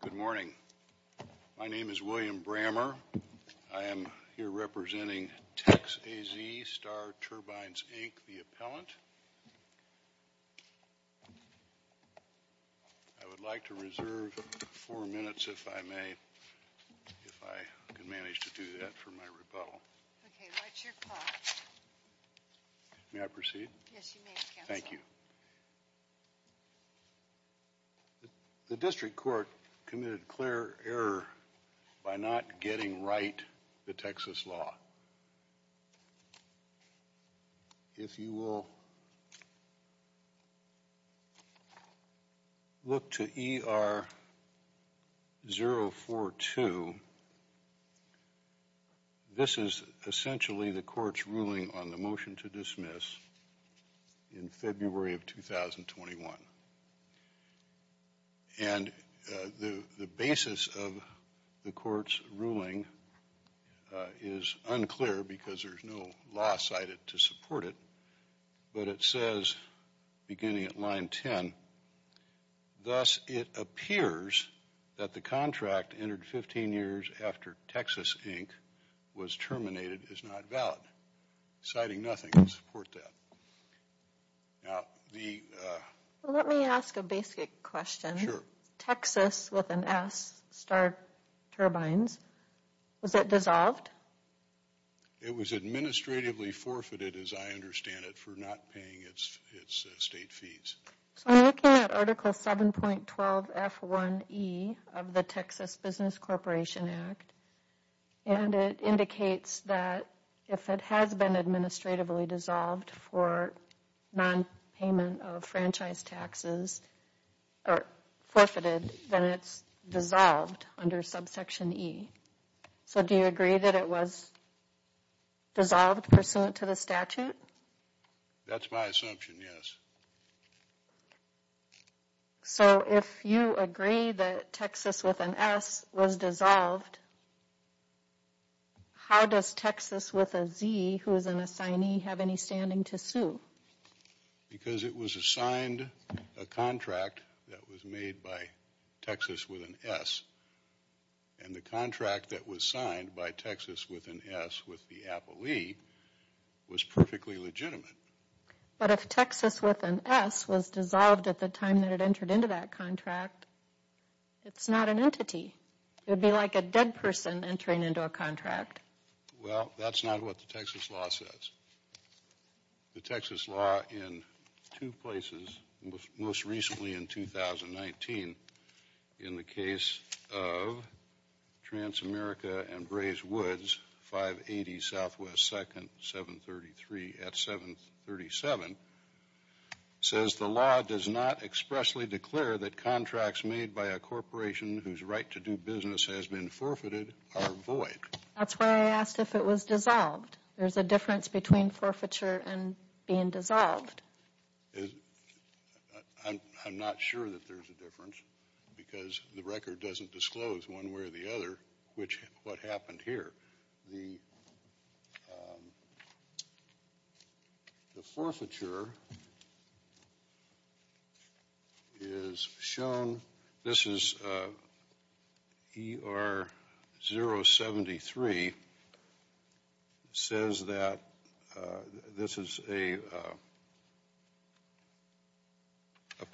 Good morning. My name is William Brammer. I am here representing TexAZ Star Turbines, Inc., the appellant. I would like to reserve four minutes, if I may, if I can manage to do that for my rebuttal. Okay, what's your call? May I proceed? Yes, you may, counsel. Thank you. The district court committed clear error by not getting right the Texas law. If you will look to ER-042, this is essentially the court's ruling on the motion to dismiss in February of 2021. And the basis of the court's ruling is unclear because there is no law cited to support it, but it says, beginning at line 10, thus it appears that the contract entered 15 years after Texas, Inc. was terminated is not valid, citing nothing to support that. Now, the... Let me ask a basic question. Sure. Texas, with an S, Star Turbines, was it dissolved? It was administratively forfeited, as I understand it, for not paying its state fees. So I'm looking at Article 7.12 F1E of the Texas Business Corporation Act, and it indicates that if it has been administratively dissolved for nonpayment of franchise taxes, or forfeited, then it's dissolved under subsection E. So do you agree that it was dissolved pursuant to the statute? That's my assumption, yes. So if you agree that Texas, with an S, was dissolved, how does Texas, with a Z, who is an assignee, have any standing to sue? Because it was assigned a contract that was made by Texas, with an S, and the contract that was signed by Texas, with an S, with the appellee, was perfectly legitimate. But if Texas, with an S, was dissolved at the time that it entered into that contract, it's not an entity. It would be like a dead person entering into a contract. Well, that's not what the Texas law says. The Texas law in two places, most recently in 2019, in the case of Transamerica and Braze Woods, 580 Southwest 2nd, 733 at 737, says the law does not expressly declare that contracts made by a corporation whose right to do business has been forfeited are void. That's why I asked if it was dissolved. There's a difference between forfeiture and being dissolved. I'm not sure that there's a difference, because the record doesn't disclose one way or the other what happened here. The forfeiture is shown. This is ER 073. It says that this is a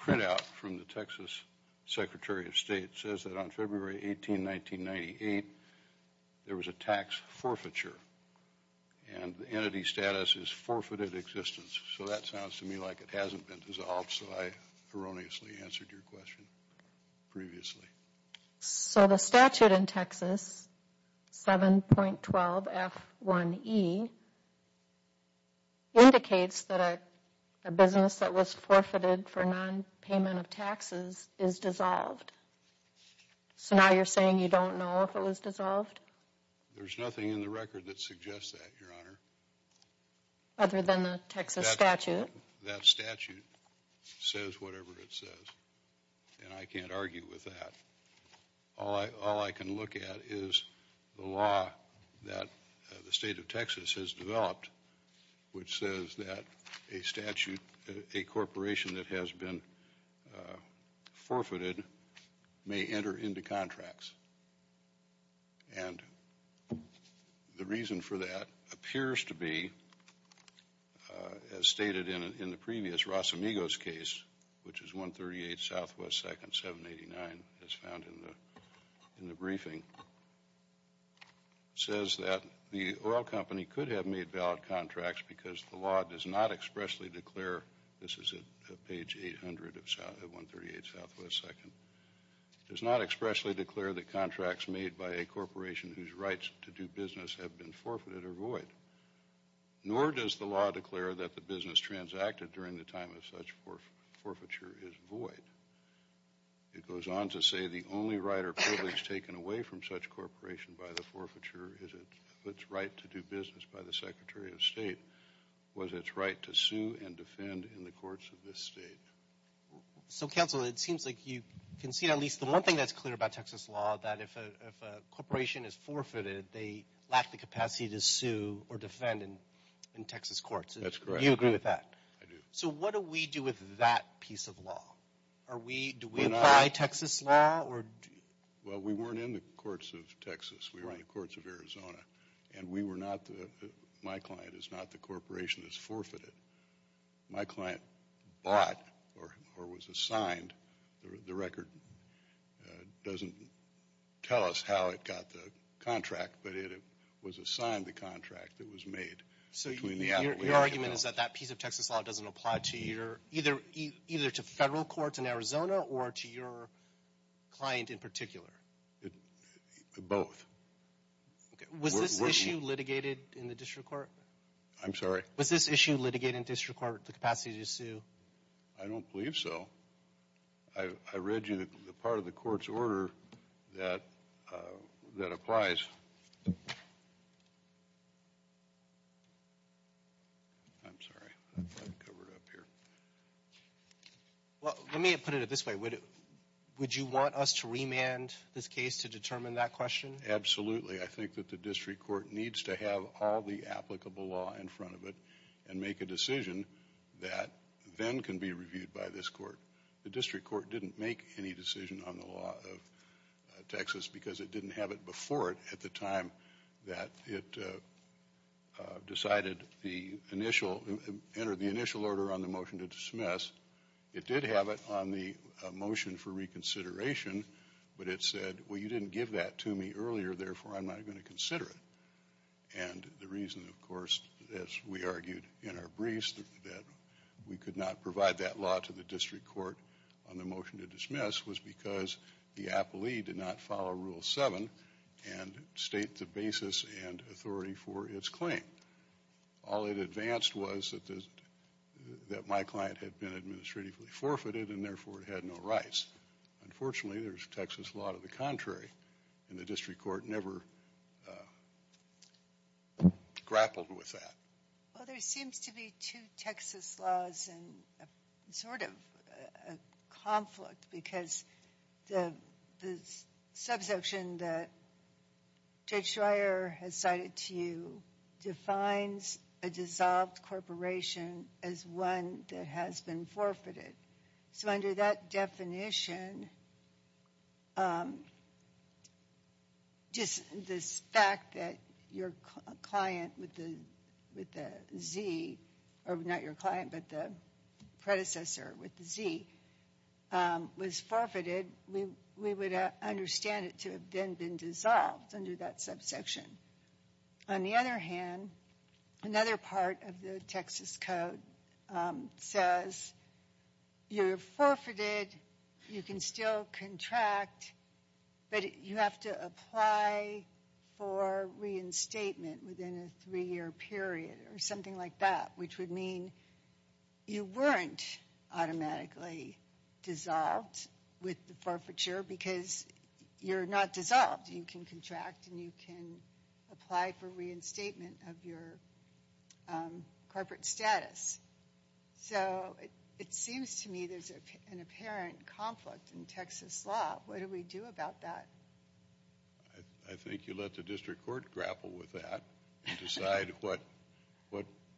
printout from the Texas Secretary of State. It says that on February 18, 1998, there was a tax forfeiture. And the entity status is forfeited existence. So that sounds to me like it hasn't been dissolved, so I erroneously answered your question previously. So the statute in Texas, 7.12 F1E, indicates that a business that was forfeited for non-payment of taxes is dissolved. So now you're saying you don't know if it was dissolved? There's nothing in the record that suggests that, Your Honor. Other than the Texas statute? That statute says whatever it says, and I can't argue with that. All I can look at is the law that the state of Texas has developed, which says that a corporation that has been forfeited may enter into contracts. And the reason for that appears to be, as stated in the previous Rosamigo's case, which is 138 Southwest 2nd, 789, as found in the briefing, says that the oil company could have made valid contracts because the law does not expressly declare, this is at page 800 of 138 Southwest 2nd, does not expressly declare that contracts made by a corporation whose rights to do business have been forfeited are void. Nor does the law declare that the business transacted during the time of such forfeiture is void. It goes on to say the only right or privilege taken away from such corporation by the forfeiture is its right to do business by the Secretary of State, was its right to sue and defend in the courts of this state. So, counsel, it seems like you can see at least the one thing that's clear about Texas law, that if a corporation is forfeited, they lack the capacity to sue or defend in Texas courts. That's correct. You agree with that? I do. So what do we do with that piece of law? Do we apply Texas law? Well, we weren't in the courts of Texas. We were in the courts of Arizona. And my client is not the corporation that's forfeited. My client bought or was assigned the record. It doesn't tell us how it got the contract, but it was assigned the contract that was made. So your argument is that that piece of Texas law doesn't apply either to federal courts in Arizona or to your client in particular? Both. Was this issue litigated in the district court? I'm sorry? Was this issue litigated in district court, the capacity to sue? I don't believe so. I read you the part of the court's order that applies. I'm sorry. I've got it covered up here. Well, let me put it this way. Would you want us to remand this case to determine that question? Absolutely. I think that the district court needs to have all the applicable law in front of it and make a decision that then can be reviewed by this court. The district court didn't make any decision on the law of Texas because it didn't have it before it at the time that it decided the initial order on the motion to dismiss. It did have it on the motion for reconsideration, but it said, well, you didn't give that to me earlier, therefore I'm not going to consider it. And the reason, of course, as we argued in our briefs, that we could not provide that law to the district court on the motion to dismiss was because the appellee did not follow Rule 7 and state the basis and authority for its claim. All it advanced was that my client had been administratively forfeited and therefore had no rights. Unfortunately, there's Texas law to the contrary, and the district court never grappled with that. Well, there seems to be two Texas laws and sort of a conflict because the subsection that Judge Schreier has cited to you defines a dissolved corporation as one that has been forfeited. So under that definition, just this fact that your client with the Z, or not your client, but the predecessor with the Z, was forfeited, we would understand it to have then been dissolved under that subsection. On the other hand, another part of the Texas code says you're forfeited, you can still contract, but you have to apply for reinstatement within a three-year period or something like that, which would mean you weren't automatically dissolved with the forfeiture because you're not dissolved. You can contract and you can apply for reinstatement of your corporate status. So it seems to me there's an apparent conflict in Texas law. What do we do about that? I think you let the district court grapple with that and decide what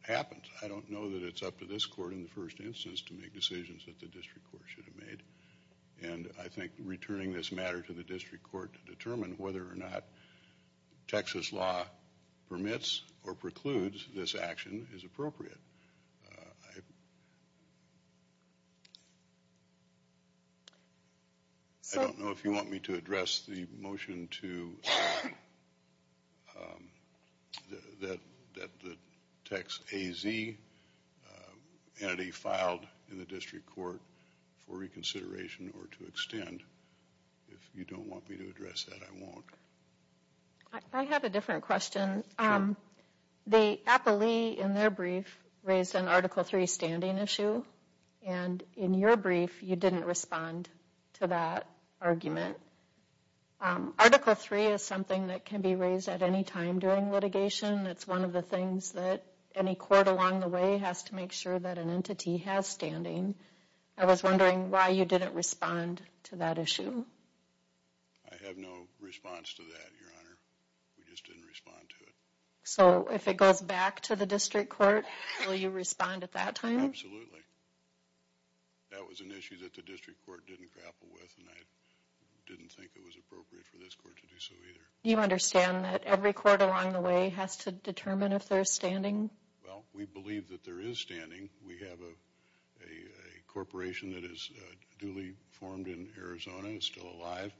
happens. I don't know that it's up to this court in the first instance to make decisions that the district court should have made. And I think returning this matter to the district court to determine whether or not Texas law permits or precludes this action is appropriate. I don't know if you want me to address the motion that the text AZ entity filed in the district court for reconsideration or to extend. If you don't want me to address that, I won't. I have a different question. The appellee in their brief raised an article three standing issue. And in your brief, you didn't respond to that argument. Article three is something that can be raised at any time during litigation. It's one of the things that any court along the way has to make sure that an entity has standing. I was wondering why you didn't respond to that issue. I have no response to that, Your Honor. We just didn't respond to it. So if it goes back to the district court, will you respond at that time? Absolutely. That was an issue that the district court didn't grapple with, and I didn't think it was appropriate for this court to do so either. You understand that every court along the way has to determine if there's standing? Well, we believe that there is standing. We have a corporation that is duly formed in Arizona and is still alive,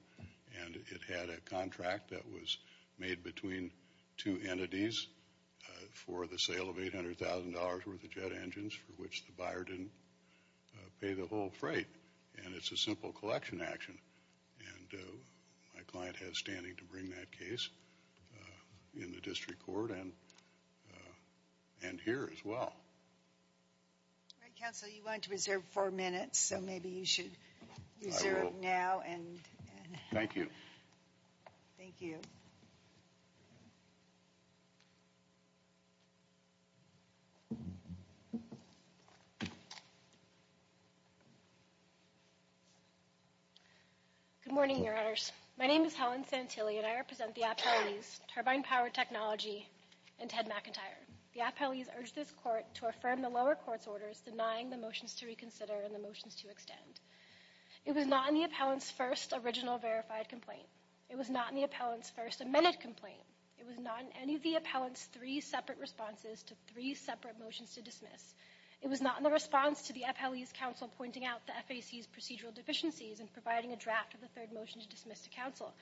and it had a contract that was made between two entities for the sale of $800,000 worth of jet engines for which the buyer didn't pay the whole freight, and it's a simple collection action. My client has standing to bring that case in the district court and here as well. All right, counsel, you wanted to reserve four minutes, so maybe you should reserve now. Thank you. Thank you. Good morning, Your Honors. My name is Helen Santilli, and I represent the appellees, Turbine Power Technology, and Ted McIntyre. The appellees urged this court to affirm the lower court's orders denying the motions to reconsider and the motions to extend. It was not in the appellant's first original verified complaint. It was not in the appellant's first amended complaint. It was not in any of the appellant's three separate responses to three separate motions to dismiss. It was not in the response to the appellee's counsel pointing out the FAC's procedural deficiencies and providing a draft of the third motion to dismiss to counsel.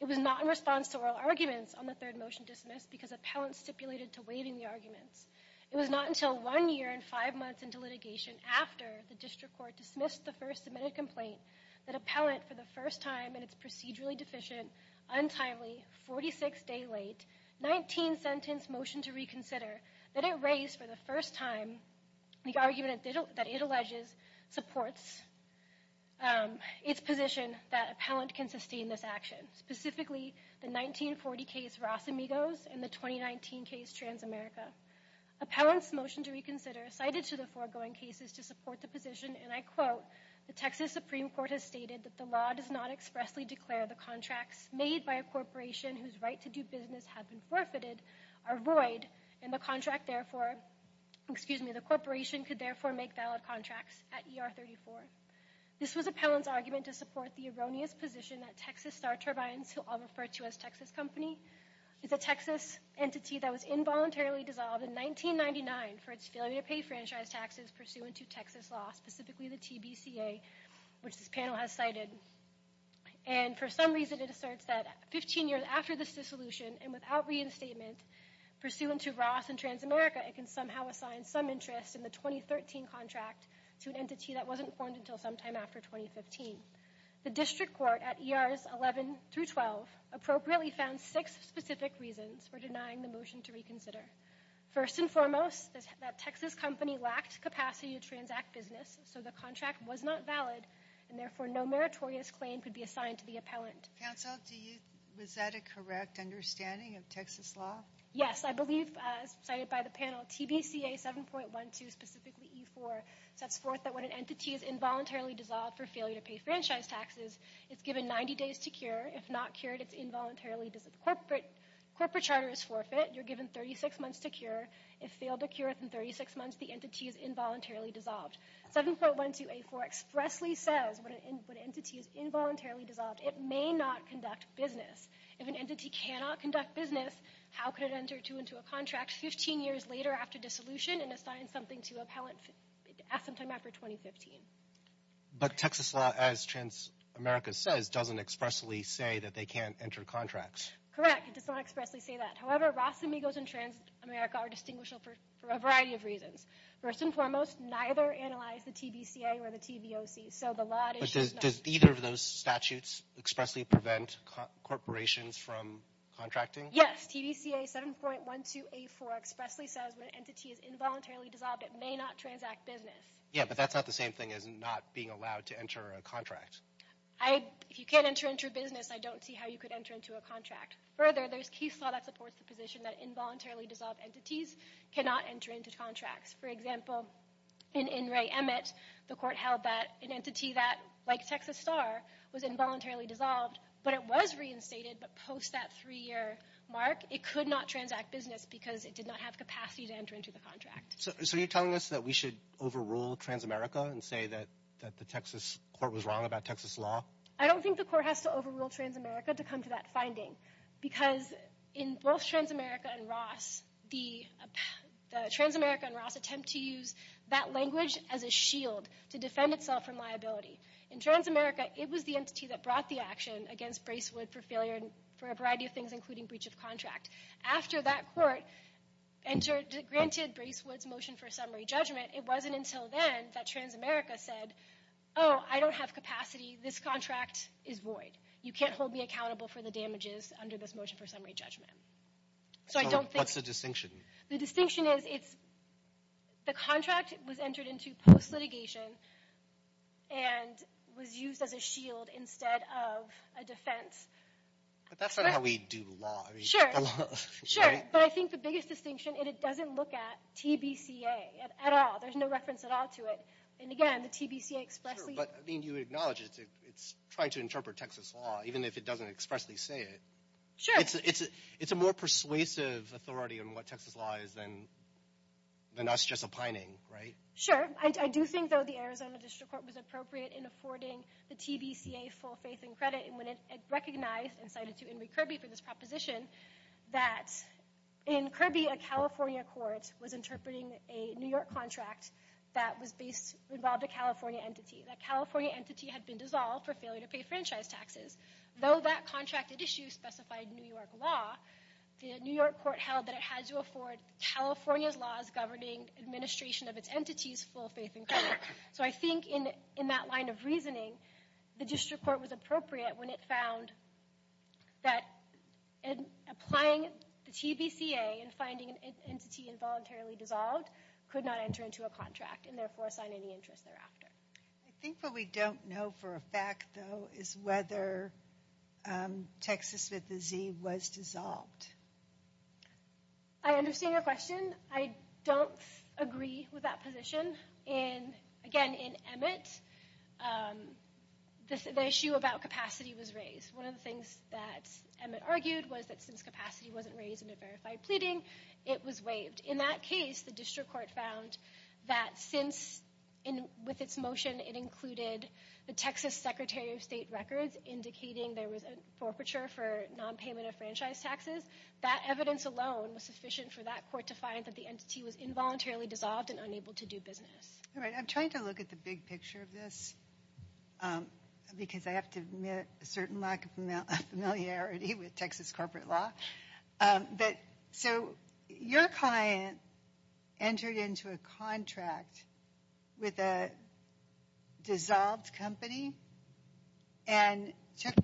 It was not in response to oral arguments on the third motion dismissed because appellants stipulated to waiving the arguments. It was not until one year and five months into litigation after the district court dismissed the first submitted complaint that appellant for the first time in its procedurally deficient, untimely, 46-day-late, 19-sentence motion to reconsider that it raised for the first time the argument that it alleges supports its position that appellant can sustain this action. Specifically, the 1940 case Ross Amigos and the 2019 case Transamerica. Appellant's motion to reconsider cited to the foregoing cases to support the position, and I quote, the Texas Supreme Court has stated that the law does not expressly declare the contracts made by a corporation whose right to do business have been forfeited are void, and the contract therefore, excuse me, the corporation could therefore make valid contracts at ER 34. This was appellant's argument to support the erroneous position that Texas Star Turbines, who I'll refer to as Texas Company, is a Texas entity that was involuntarily dissolved in 1999 for its failure to pay franchise taxes pursuant to Texas law, specifically the TBCA, which this panel has cited. And for some reason it asserts that 15 years after this dissolution and without reinstatement, pursuant to Ross and Transamerica, it can somehow assign some interest in the 2013 contract to an entity that wasn't formed until sometime after 2015. The district court at ERs 11 through 12 appropriately found six specific reasons for denying the motion to reconsider. First and foremost, that Texas Company lacked capacity to transact business, so the contract was not valid, and therefore no meritorious claim could be assigned to the appellant. Counsel, was that a correct understanding of Texas law? Yes. I believe, as cited by the panel, TBCA 7.12, specifically E4, sets forth that when an entity is involuntarily dissolved for failure to pay franchise taxes, it's given 90 days to cure. If not cured, it's involuntarily—the corporate charter is forfeit. You're given 36 months to cure. If failed to cure within 36 months, the entity is involuntarily dissolved. 7.12A4 expressly says when an entity is involuntarily dissolved, it may not conduct business. If an entity cannot conduct business, how could it enter into a contract 15 years later after dissolution and assign something to an appellant sometime after 2015? But Texas law, as Transamerica says, doesn't expressly say that they can't enter contracts. Correct. It does not expressly say that. However, Ross Amigos and Transamerica are distinguishable for a variety of reasons. First and foremost, neither analyze the TBCA or the TVOC, so the law— But does either of those statutes expressly prevent corporations from contracting? Yes. TBCA 7.12A4 expressly says when an entity is involuntarily dissolved, it may not transact business. Yeah, but that's not the same thing as not being allowed to enter a contract. If you can't enter into a business, I don't see how you could enter into a contract. Further, there's case law that supports the position that involuntarily dissolved entities cannot enter into contracts. For example, in Ray Emmett, the court held that an entity like Texas Star was involuntarily dissolved, but it was reinstated, but post that three-year mark, it could not transact business because it did not have capacity to enter into the contract. So you're telling us that we should overrule Transamerica and say that the Texas court was wrong about Texas law? I don't think the court has to overrule Transamerica to come to that finding because in both Transamerica and Ross, the Transamerica and Ross attempt to use that language as a shield to defend itself from liability. In Transamerica, it was the entity that brought the action against Bracewood for failure for a variety of things, including breach of contract. After that court granted Bracewood's motion for summary judgment, it wasn't until then that Transamerica said, oh, I don't have capacity. This contract is void. You can't hold me accountable for the damages under this motion for summary judgment. So what's the distinction? The distinction is the contract was entered into post-litigation and was used as a shield instead of a defense. But that's not how we do law. Sure, but I think the biggest distinction is it doesn't look at TBCA at all. There's no reference at all to it. And again, the TBCA expressly— Sure, but I mean, you acknowledge it's trying to interpret Texas law even if it doesn't expressly say it. Sure. It's a more persuasive authority on what Texas law is than us just opining, right? Sure. I do think, though, the Arizona District Court was appropriate in affording the TBCA full faith and credit when it recognized and cited to Henry Kirby for this proposition that in Kirby, a California court was interpreting a New York contract that involved a California entity. That California entity had been dissolved for failure to pay franchise taxes. Though that contracted issue specified New York law, the New York court held that it had to afford California's laws governing administration of its entities full faith and credit. So I think in that line of reasoning, the District Court was appropriate when it found that applying the TBCA and finding an entity involuntarily dissolved could not enter into a contract and therefore assign any interest thereafter. I think what we don't know for a fact, though, is whether Texas with a Z was dissolved. I understand your question. I don't agree with that position. And again, in Emmett, the issue about capacity was raised. One of the things that Emmett argued was that since capacity wasn't raised in a verified pleading, it was waived. In that case, the District Court found that since with its motion it included the Texas Secretary of State records indicating there was a forfeiture for nonpayment of franchise taxes, that evidence alone was sufficient for that court to find that the entity was involuntarily dissolved and unable to do business. I'm trying to look at the big picture of this because I have to admit a certain lack of familiarity with Texas corporate law. So your client entered into a contract with a dissolved company and took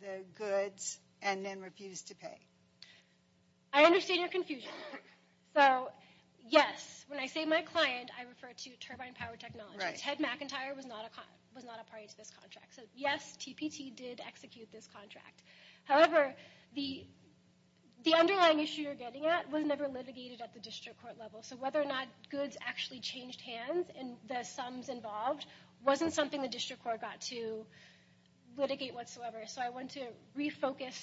the goods and then refused to pay. I understand your confusion. So yes, when I say my client, I refer to Turbine Power Technologies. Ted McIntyre was not a party to this contract. So yes, TPT did execute this contract. However, the underlying issue you're getting at was never litigated at the District Court level. So whether or not goods actually changed hands and the sums involved wasn't something the District Court got to litigate whatsoever. So I want to refocus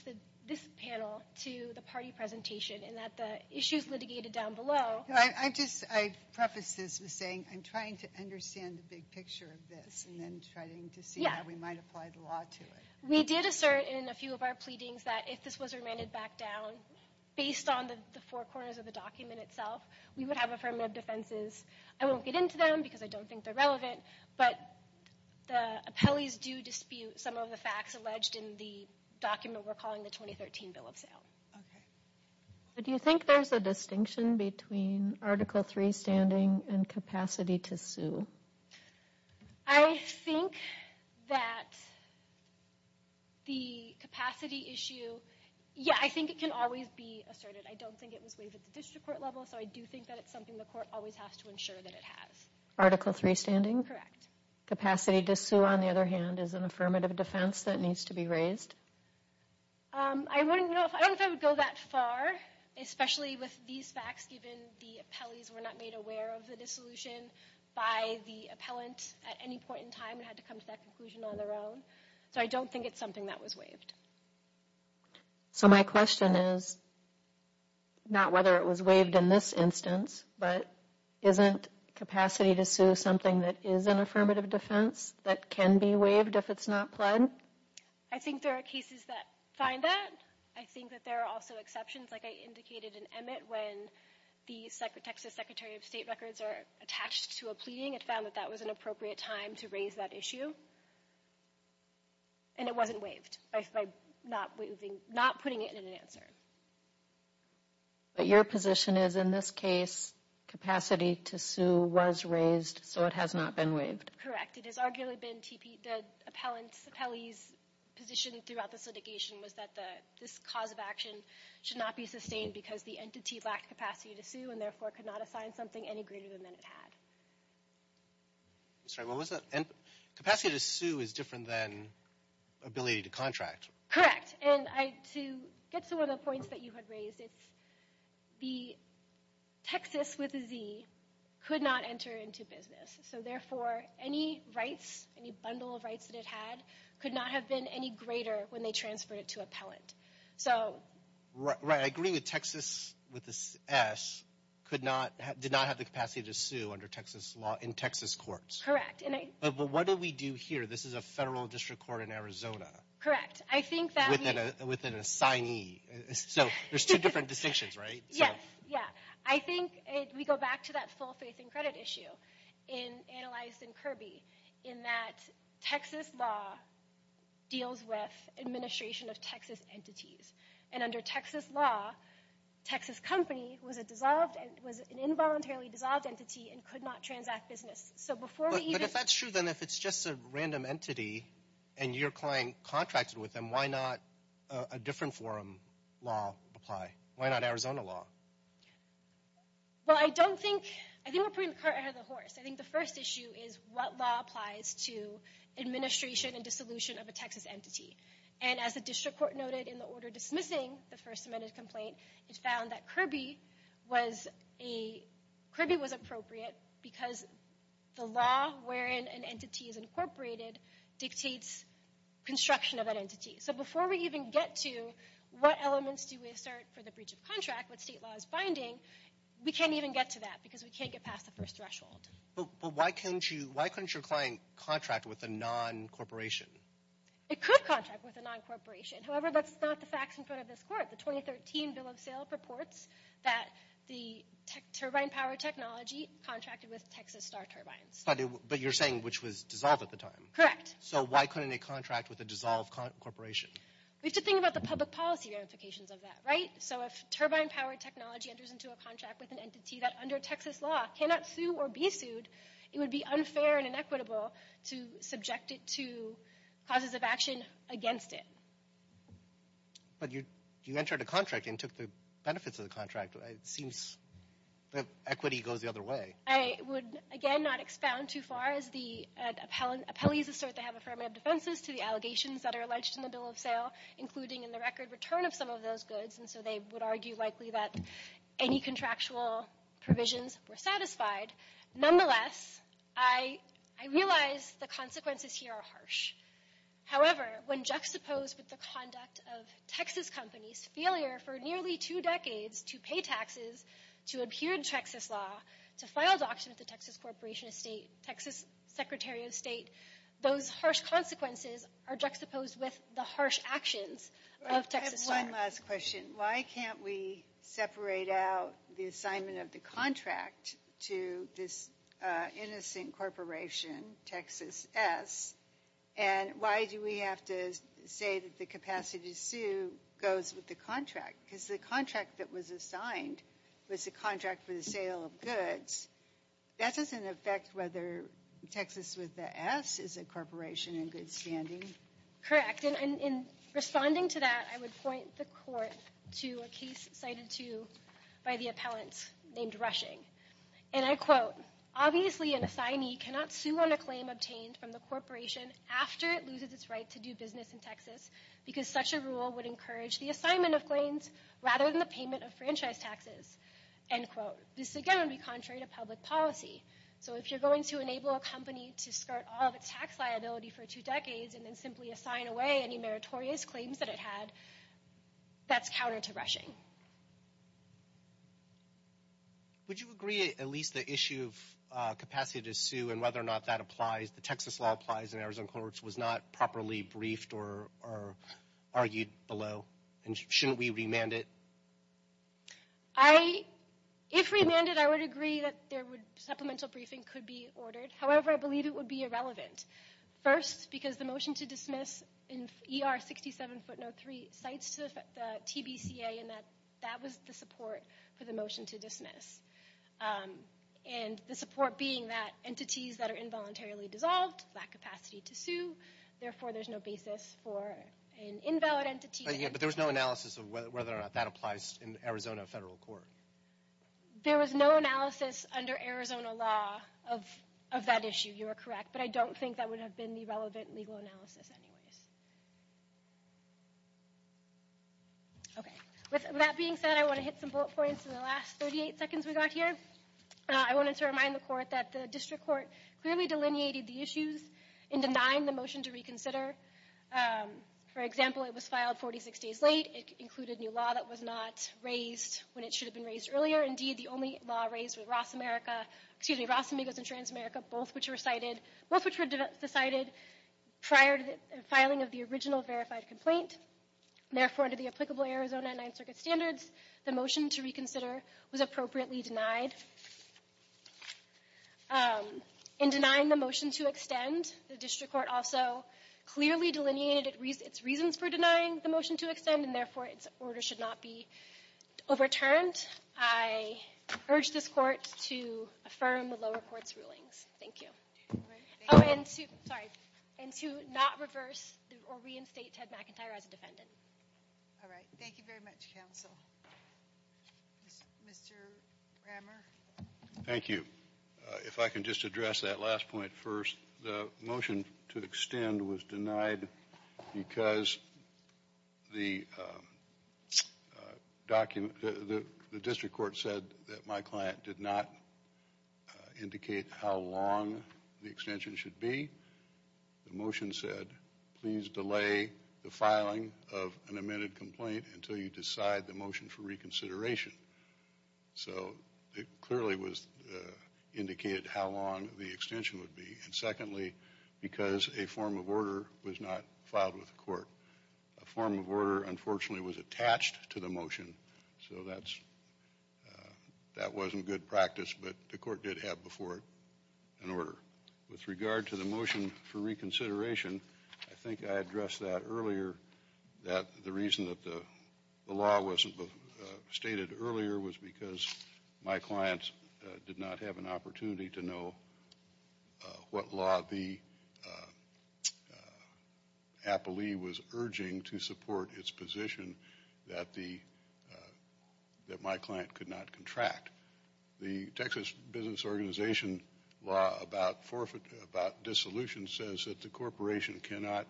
this panel to the party presentation in that the issues litigated down below... I just prefaced this by saying I'm trying to understand the big picture of this and then trying to see how we might apply the law to it. We did assert in a few of our pleadings that if this was remanded back down, based on the four corners of the document itself, we would have affirmative defenses. I won't get into them because I don't think they're relevant, but the appellees do dispute some of the facts alleged in the document we're calling the 2013 Bill of Sale. Okay. Do you think there's a distinction between Article III standing and capacity to sue? I think that the capacity issue... Yeah, I think it can always be asserted. I don't think it was waived at the District Court level, so I do think that it's something the court always has to ensure that it has. Article III standing? Correct. Capacity to sue, on the other hand, is an affirmative defense that needs to be raised? I don't know if I would go that far, especially with these facts given the appellees were not made aware of the dissolution by the appellant at any point in time and had to come to that conclusion on their own. So I don't think it's something that was waived. So my question is not whether it was waived in this instance, but isn't capacity to sue something that is an affirmative defense that can be waived if it's not pled? I think there are cases that find that. I think that there are also exceptions. Like I indicated in Emmett, when the Texas Secretary of State records are attached to a pleading, it found that that was an appropriate time to raise that issue, and it wasn't waived by not putting it in an answer. But your position is, in this case, capacity to sue was raised, so it has not been waived? Correct. It has arguably been the appellant's position throughout this litigation was that this cause of action should not be sustained because the entity lacked capacity to sue and therefore could not assign something any greater than it had. I'm sorry, what was that? Capacity to sue is different than ability to contract. Correct. And to get to one of the points that you had raised, it's the Texas with a Z could not enter into business, so therefore any rights, any bundle of rights that it had, could not have been any greater when they transferred it to appellant. Right, I agree with Texas with an S did not have the capacity to sue under Texas law in Texas courts. Correct. But what did we do here? This is a federal district court in Arizona. Correct. With an assignee. So there's two different distinctions, right? Yes, yeah. I think we go back to that full faith in credit issue analyzed in Kirby in that Texas law deals with administration of Texas entities. And under Texas law, Texas company was an involuntarily dissolved entity and could not transact business. But if that's true, then if it's just a random entity and your client contracted with them, why not a different forum law apply? Why not Arizona law? Well, I think we're putting the cart before the horse. I think the first issue is what law applies to administration and dissolution of a Texas entity. And as the district court noted in the order dismissing the First Amendment complaint, it found that Kirby was appropriate because the law wherein an entity is incorporated dictates construction of an entity. So before we even get to what elements do we assert for the breach of contract, what state law is binding, we can't even get to that because we can't get past the first threshold. But why couldn't your client contract with a non-corporation? It could contract with a non-corporation. However, that's not the facts in front of this court. The 2013 bill of sale purports that the turbine power technology contracted with Texas Star Turbines. But you're saying which was dissolved at the time. Correct. So why couldn't they contract with a dissolved corporation? We have to think about the public policy ramifications of that, right? So if turbine power technology enters into a contract with an entity that under Texas law cannot sue or be sued, it would be unfair and inequitable to subject it to causes of action against it. But you entered a contract and took the benefits of the contract. It seems that equity goes the other way. I would, again, not expound too far as the appellees assert they have affirmative defenses to the allegations that are alleged in the bill of sale, including in the record return of some of those goods. And so they would argue likely that any contractual provisions were satisfied. Nonetheless, I realize the consequences here are harsh. However, when juxtaposed with the conduct of Texas companies' failure for nearly two decades to pay taxes, to adhere to Texas law, to file a doctrine with the Texas Corporation of State, Texas Secretary of State, those harsh consequences are juxtaposed with the harsh actions of Texas law. I have one last question. Why can't we separate out the assignment of the contract to this innocent corporation, Texas S, and why do we have to say that the capacity to sue goes with the contract? Because the contract that was assigned was the contract for the sale of goods. That doesn't affect whether Texas with the S is a corporation in good standing. Correct. And in responding to that, I would point the court to a case cited to by the appellant named Rushing. And I quote, Obviously an assignee cannot sue on a claim obtained from the corporation after it loses its right to do business in Texas because such a rule would encourage the assignment of claims rather than the payment of franchise taxes. End quote. This, again, would be contrary to public policy. So if you're going to enable a company to skirt all of its tax liability for two decades and then simply assign away any meritorious claims that it had, that's counter to rushing. Would you agree at least the issue of capacity to sue and whether or not that applies, the Texas law applies in Arizona courts, was not properly briefed or argued below? And shouldn't we remand it? If remanded, I would agree that supplemental briefing could be ordered. However, I believe it would be irrelevant. First, because the motion to dismiss in ER 67 footnote 3 cites the TBCA and that was the support for the motion to dismiss. And the support being that entities that are involuntarily dissolved lack capacity to sue. Therefore, there's no basis for an invalid entity. But there was no analysis of whether or not that applies in Arizona federal court. There was no analysis under Arizona law of that issue. You are correct, but I don't think that would have been the relevant legal analysis anyways. Okay. With that being said, I want to hit some bullet points in the last 38 seconds we got here. I wanted to remind the court that the district court clearly delineated the issues in denying the motion to reconsider. For example, it was filed 46 days late. It included new law that was not raised when it should have been raised earlier. Indeed, the only law raised was RAS America, excuse me, RAS Amigos and Trans America, both which were decided prior to the filing of the original verified complaint. Therefore, under the applicable Arizona 9th Circuit standards, the motion to reconsider was appropriately denied. In denying the motion to extend, the district court also clearly delineated its reasons for denying the motion to extend and therefore its order should not be overturned. I urge this court to affirm the lower court's rulings. Thank you. And to not reverse or reinstate Ted McIntyre as a defendant. All right. Thank you very much, counsel. Mr. Brammer. Thank you. If I can just address that last point first. The motion to extend was denied because the district court said that my client did not indicate how long the extension should be. The motion said, please delay the filing of an amended complaint until you decide the motion for reconsideration. So it clearly indicated how long the extension would be. And secondly, because a form of order was not filed with the court. A form of order, unfortunately, was attached to the motion. So that wasn't good practice, but the court did have before it an order. With regard to the motion for reconsideration, I think I addressed that earlier, that the reason that the law was stated earlier was because my client did not have an opportunity to know what law the appellee was urging to support its position that my client could not contract. The Texas Business Organization law about dissolution says that the corporation cannot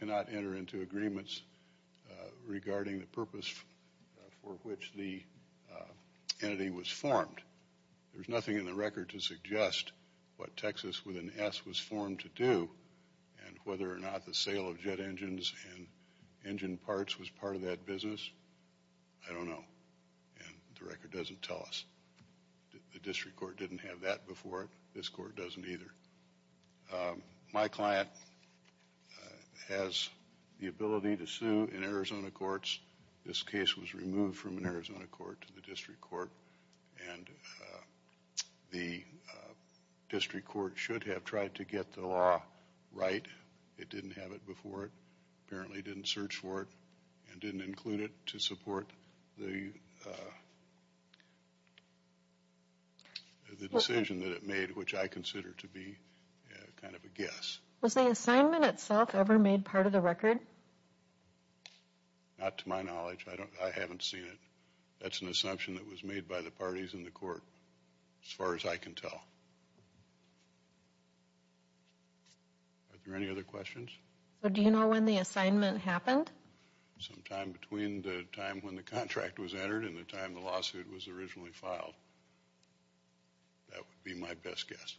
enter into agreements regarding the purpose for which the entity was formed. There's nothing in the record to suggest what Texas with an S was formed to do and whether or not the sale of jet engines and engine parts was part of that business. I don't know, and the record doesn't tell us. The district court didn't have that before it. This court doesn't either. My client has the ability to sue in Arizona courts. This case was removed from an Arizona court to the district court, and the district court should have tried to get the law right. It didn't have it before it, apparently didn't search for it, and didn't include it to support the decision that it made, which I consider to be kind of a guess. Was the assignment itself ever made part of the record? Not to my knowledge. I haven't seen it. That's an assumption that was made by the parties in the court as far as I can tell. Are there any other questions? Do you know when the assignment happened? Sometime between the time when the contract was entered and the time the lawsuit was originally filed. That would be my best guess.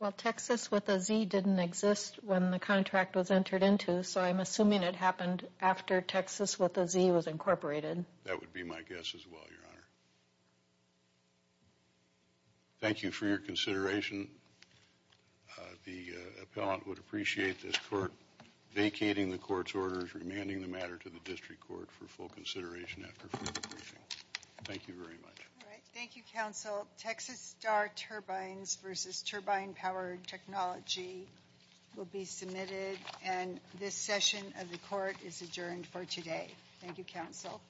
Well, Texas with a Z didn't exist when the contract was entered into, so I'm assuming it happened after Texas with a Z was incorporated. That would be my guess as well, Your Honor. Thank you for your consideration. The appellant would appreciate this court vacating the court's orders, remanding the matter to the district court for full consideration after further briefing. Thank you very much. Thank you, counsel. Texas Star Turbines v. Turbine Power Technology will be submitted, and this session of the court is adjourned for today. Thank you, counsel.